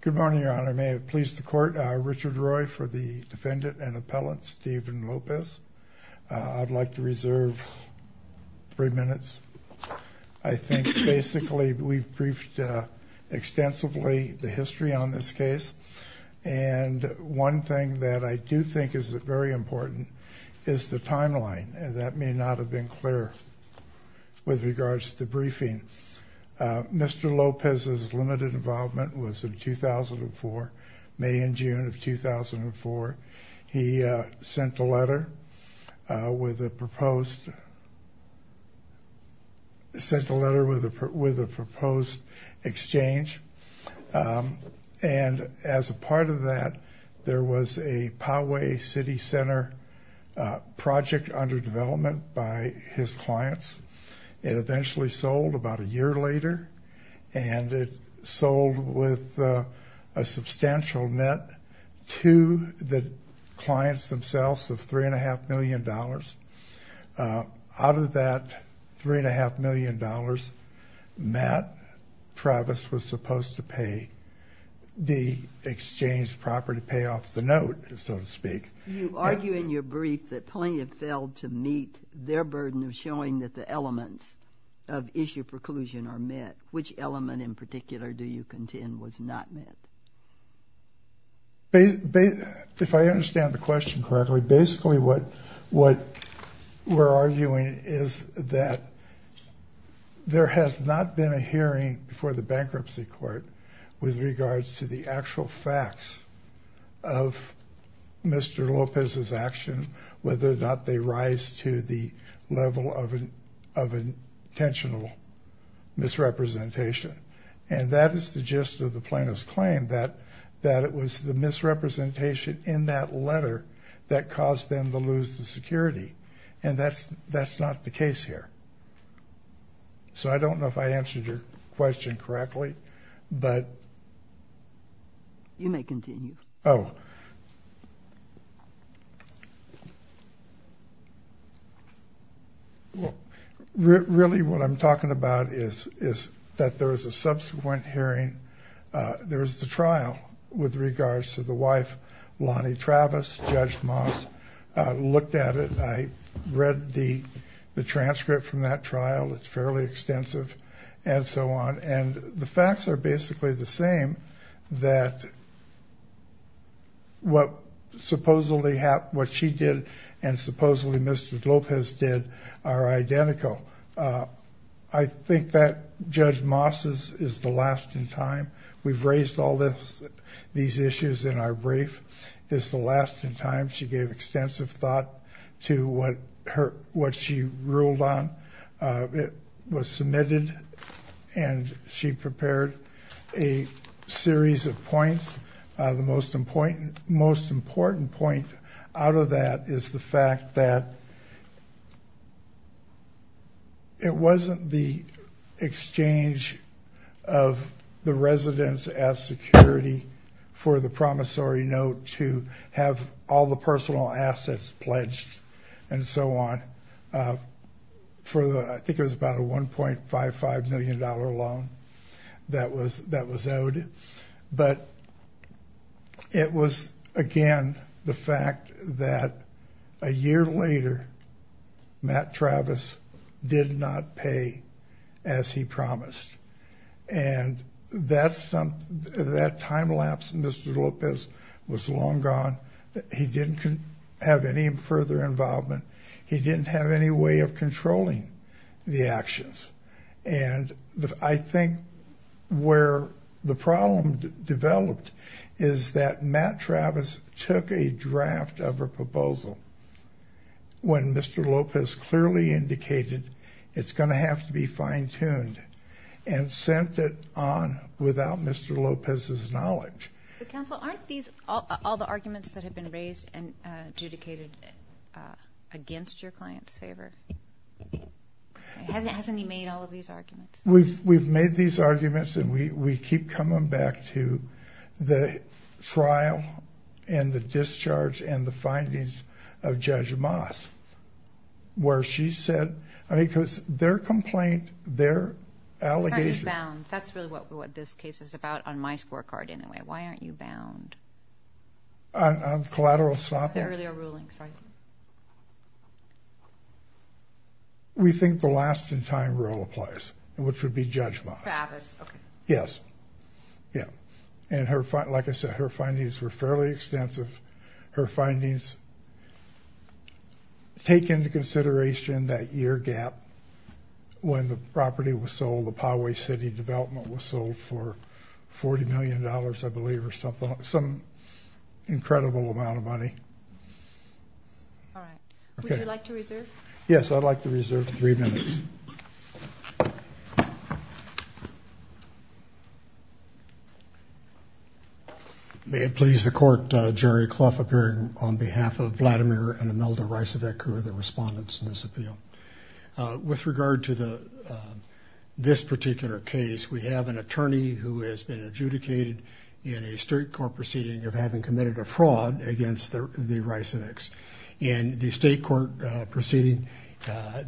Good morning, your honor. May it please the court, Richard Roy for the defendant and appellate Stephen Lopez. I'd like to reserve three minutes. I think basically we've briefed extensively the history on this case, and one thing that I do think is very important is the timeline. That may not have been clear with regards to briefing. Mr. Lopez's limited involvement was in 2004, May and June of 2004. He sent a letter with a proposed exchange, and as a part of that, there was a Poway City Center project under development by his clients. It eventually sold about a year later, and it sold with a substantial net to the clients themselves of $3.5 million. Out of that $3.5 million, Matt Travis was supposed to pay the exchange property payoff, the note, so to speak. You argue in your brief that plenty have failed to meet their burden of showing that the elements of issue preclusion are met. Which element in particular do you contend was not met? If I understand the question correctly, basically what we're arguing is that there has not been a hearing before the bankruptcy court with regards to the actual facts of Mr. Lopez's action, whether or not they rise to the level of intentional misrepresentation. And that is the gist of the plaintiff's claim, that it was the misrepresentation in that letter that caused them to lose the security, and that's not the case here. So I don't know if I answered your question correctly, but... You may continue. Oh. Well, really what I'm talking about is that there was a subsequent hearing. There was the trial with regards to the wife, Lonnie Travis. Judge Moss looked at it. I read the transcript from that trial. It's fairly extensive and so on. And the facts are basically the same that what she did and supposedly Mr. Lopez did are identical. I think that Judge Moss's is the last in time. We've raised all these issues in our brief. It's the last in time. She gave extensive thought to what she ruled on. It was submitted and she prepared a series of points. The most important point out of that is the fact that... And so on. I think it was about a $1.55 million loan that was owed. But it was, again, the fact that a year later, Matt Travis did not pay as he promised. And that time lapse of Mr. Lopez was long gone. He didn't have any further involvement. He didn't have any way of controlling the actions. And I think where the problem developed is that Matt Travis took a draft of a proposal when Mr. Lopez clearly indicated it's going to have to be fine-tuned. And sent it on without Mr. Lopez's knowledge. Counsel, aren't these all the arguments that have been raised and adjudicated against your client's favor? Hasn't he made all of these arguments? We've made these arguments and we keep coming back to the trial and the discharge and the findings of Judge Moss. Where she said... I mean, because their complaint, their allegations... Why aren't you bound? That's really what this case is about on my scorecard anyway. Why aren't you bound? On collateral sloppiness? The earlier rulings, right? We think the last-in-time rule applies, which would be Judge Moss. Travis, okay. Yes. Yeah. And like I said, her findings were fairly extensive. Her findings take into consideration that year gap when the property was sold, the Poway City development was sold for $40 million, I believe, or something, some incredible amount of money. All right. Would you like to reserve? Yes, I'd like to reserve three minutes. May it please the court, Jury Clough, appearing on behalf of Vladimir and Imelda Rycevic, who are the respondents in this appeal. With regard to this particular case, we have an attorney who has been adjudicated in a state court proceeding of having committed a fraud against the Rycevics. In the state court proceeding,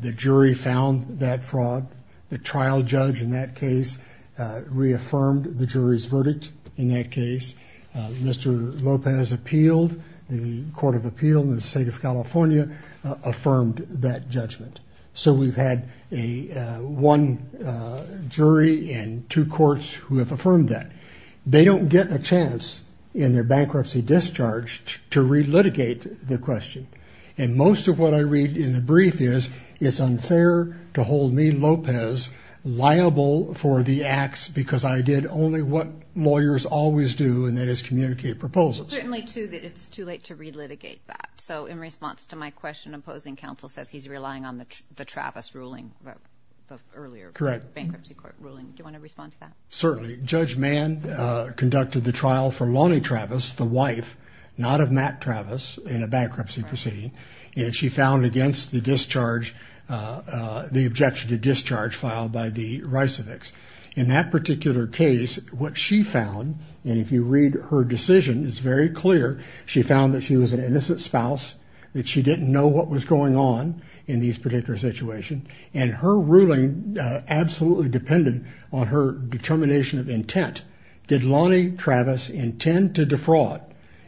the jury found that fraud. The trial judge in that case reaffirmed the jury's verdict in that case. Mr. Lopez appealed. The Court of Appeal in the state of California affirmed that judgment. So we've had one jury and two courts who have affirmed that. They don't get a chance in their bankruptcy discharge to relitigate the question. And most of what I read in the brief is it's unfair to hold me, Lopez, liable for the acts because I did only what lawyers always do, and that is communicate proposals. It's too late to relitigate that. So in response to my question, opposing counsel says he's relying on the Travis ruling earlier. Correct. Bankruptcy court ruling. Do you want to respond to that? Certainly. Judge Mann conducted the trial for Lonnie Travis, the wife, not of Matt Travis, in a bankruptcy proceeding. And she found against the discharge, the objection to discharge filed by the Rycevics. In that particular case, what she found, and if you read her decision, it's very clear. She found that she was an innocent spouse, that she didn't know what was going on in this particular situation. And her ruling absolutely depended on her determination of intent. Did Lonnie Travis intend to defraud?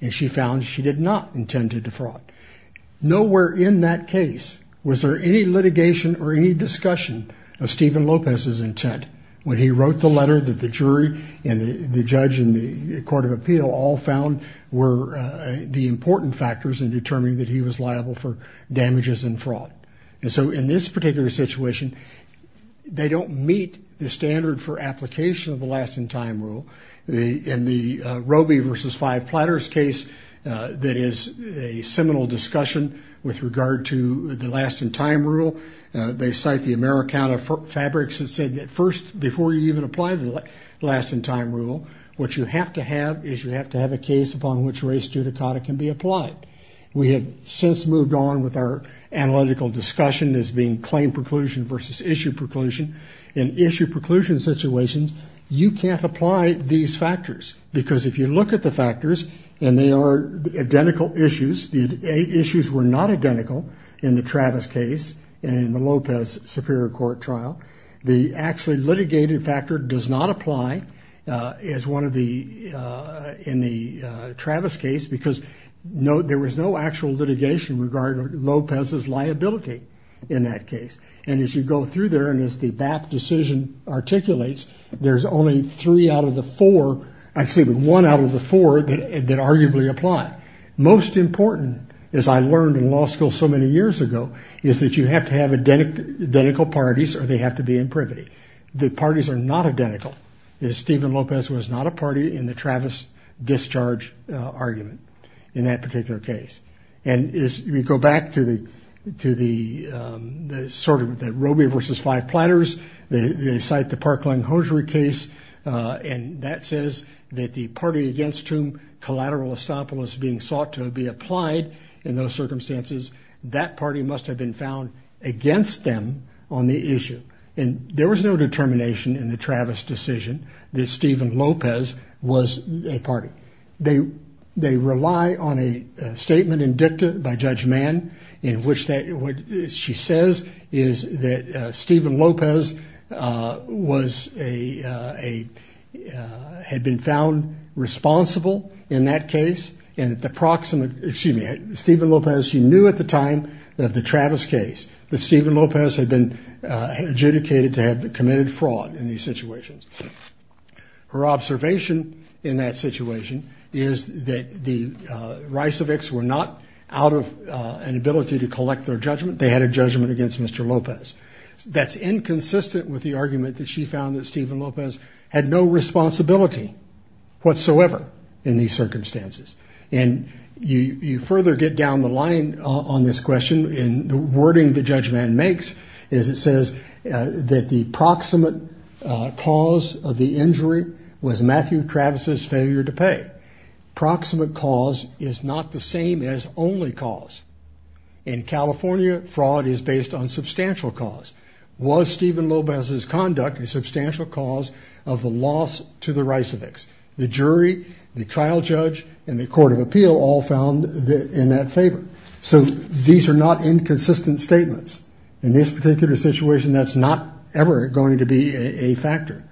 And she found she did not intend to defraud. Nowhere in that case was there any litigation or any discussion of Stephen Lopez's intent when he wrote the letter that the jury and the judge and the court of appeal all found were the important factors in determining that he was liable for damages and fraud. And so in this particular situation, they don't meet the standard for application of the last-in-time rule. In the Roby v. Five Platters case, there is a seminal discussion with regard to the last-in-time rule. They cite the Americana Fabrics that said that first, before you even apply the last-in-time rule, what you have to have is you have to have a case upon which race judicata can be applied. We have since moved on with our analytical discussion as being claim preclusion versus issue preclusion. In issue preclusion situations, you can't apply these factors because if you look at the factors, and they are identical issues. The issues were not identical in the Travis case and in the Lopez Superior Court trial. The actually litigated factor does not apply in the Travis case because there was no actual litigation regarding Lopez's liability in that case. And as you go through there and as the BAP decision articulates, there's only one out of the four that arguably apply. Most important, as I learned in law school so many years ago, is that you have to have identical parties or they have to be in privity. The parties are not identical. Stephen Lopez was not a party in the Travis discharge argument in that particular case. And as we go back to the sort of Robey versus Five Platters, they cite the Parkland-Hosiery case, and that says that the party against whom collateral estoppel is being sought to be applied in those circumstances, that party must have been found against them on the issue. And there was no determination in the Travis decision that Stephen Lopez was a party. They rely on a statement in dicta by Judge Mann in which she says is that Stephen Lopez had been found responsible in that case. And the proximate, excuse me, Stephen Lopez, she knew at the time of the Travis case that Stephen Lopez had been adjudicated to have committed fraud in these situations. Her observation in that situation is that the Riceviks were not out of an ability to collect their judgment. They had a judgment against Mr. Lopez. That's inconsistent with the argument that she found that Stephen Lopez had no responsibility whatsoever in these circumstances. And you further get down the line on this question in the wording that Judge Mann makes is it says that the proximate cause of the injury was Matthew Travis's failure to pay. Proximate cause is not the same as only cause. In California, fraud is based on substantial cause. Was Stephen Lopez's conduct a substantial cause of the loss to the Riceviks? The jury, the trial judge and the court of appeal all found in that favor. So these are not inconsistent statements. In this particular situation, that's not ever going to be a factor.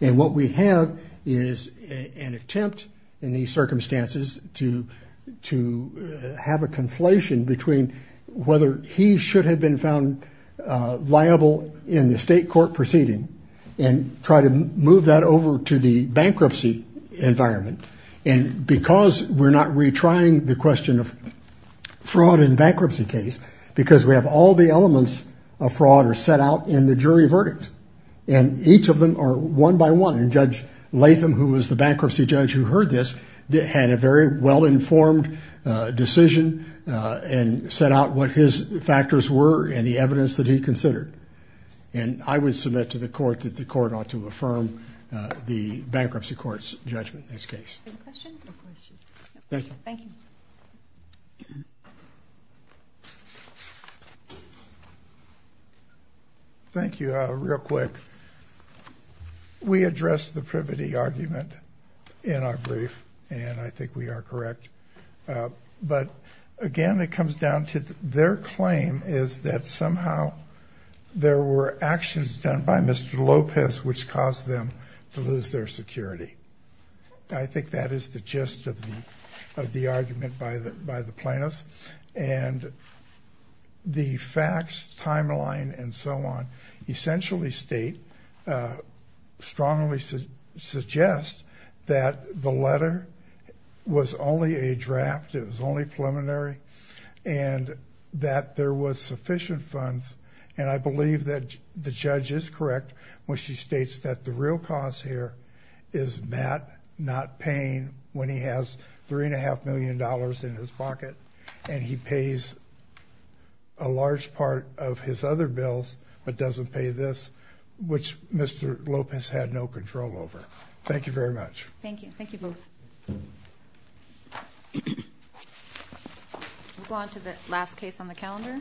And what we have is an attempt in these circumstances to have a conflation between whether he should have been found liable in the state court proceeding and try to move that over to the bankruptcy environment. And because we're not retrying the question of fraud and bankruptcy case, because we have all the elements of fraud are set out in the jury verdict. And each of them are one by one. And Judge Latham, who was the bankruptcy judge who heard this, had a very well-informed decision and set out what his factors were and the evidence that he considered. And I would submit to the court that the court ought to affirm the bankruptcy court's judgment in this case. Any questions? No questions. Thank you. Thank you. Thank you. Real quick. We addressed the privity argument in our brief, and I think we are correct. But, again, it comes down to their claim is that somehow there were actions done by Mr. Lopez which caused them to lose their security. I think that is the gist of the argument by the plaintiffs. And the facts, timeline, and so on essentially state, strongly suggest, that the letter was only a draft. It was only preliminary. And that there was sufficient funds. And I believe that the judge is correct when she states that the real cause here is Matt not paying when he has $3.5 million in his pocket. And he pays a large part of his other bills but doesn't pay this, which Mr. Lopez had no control over. Thank you very much. Thank you. Thank you both. We'll go on to the last case on the calendar.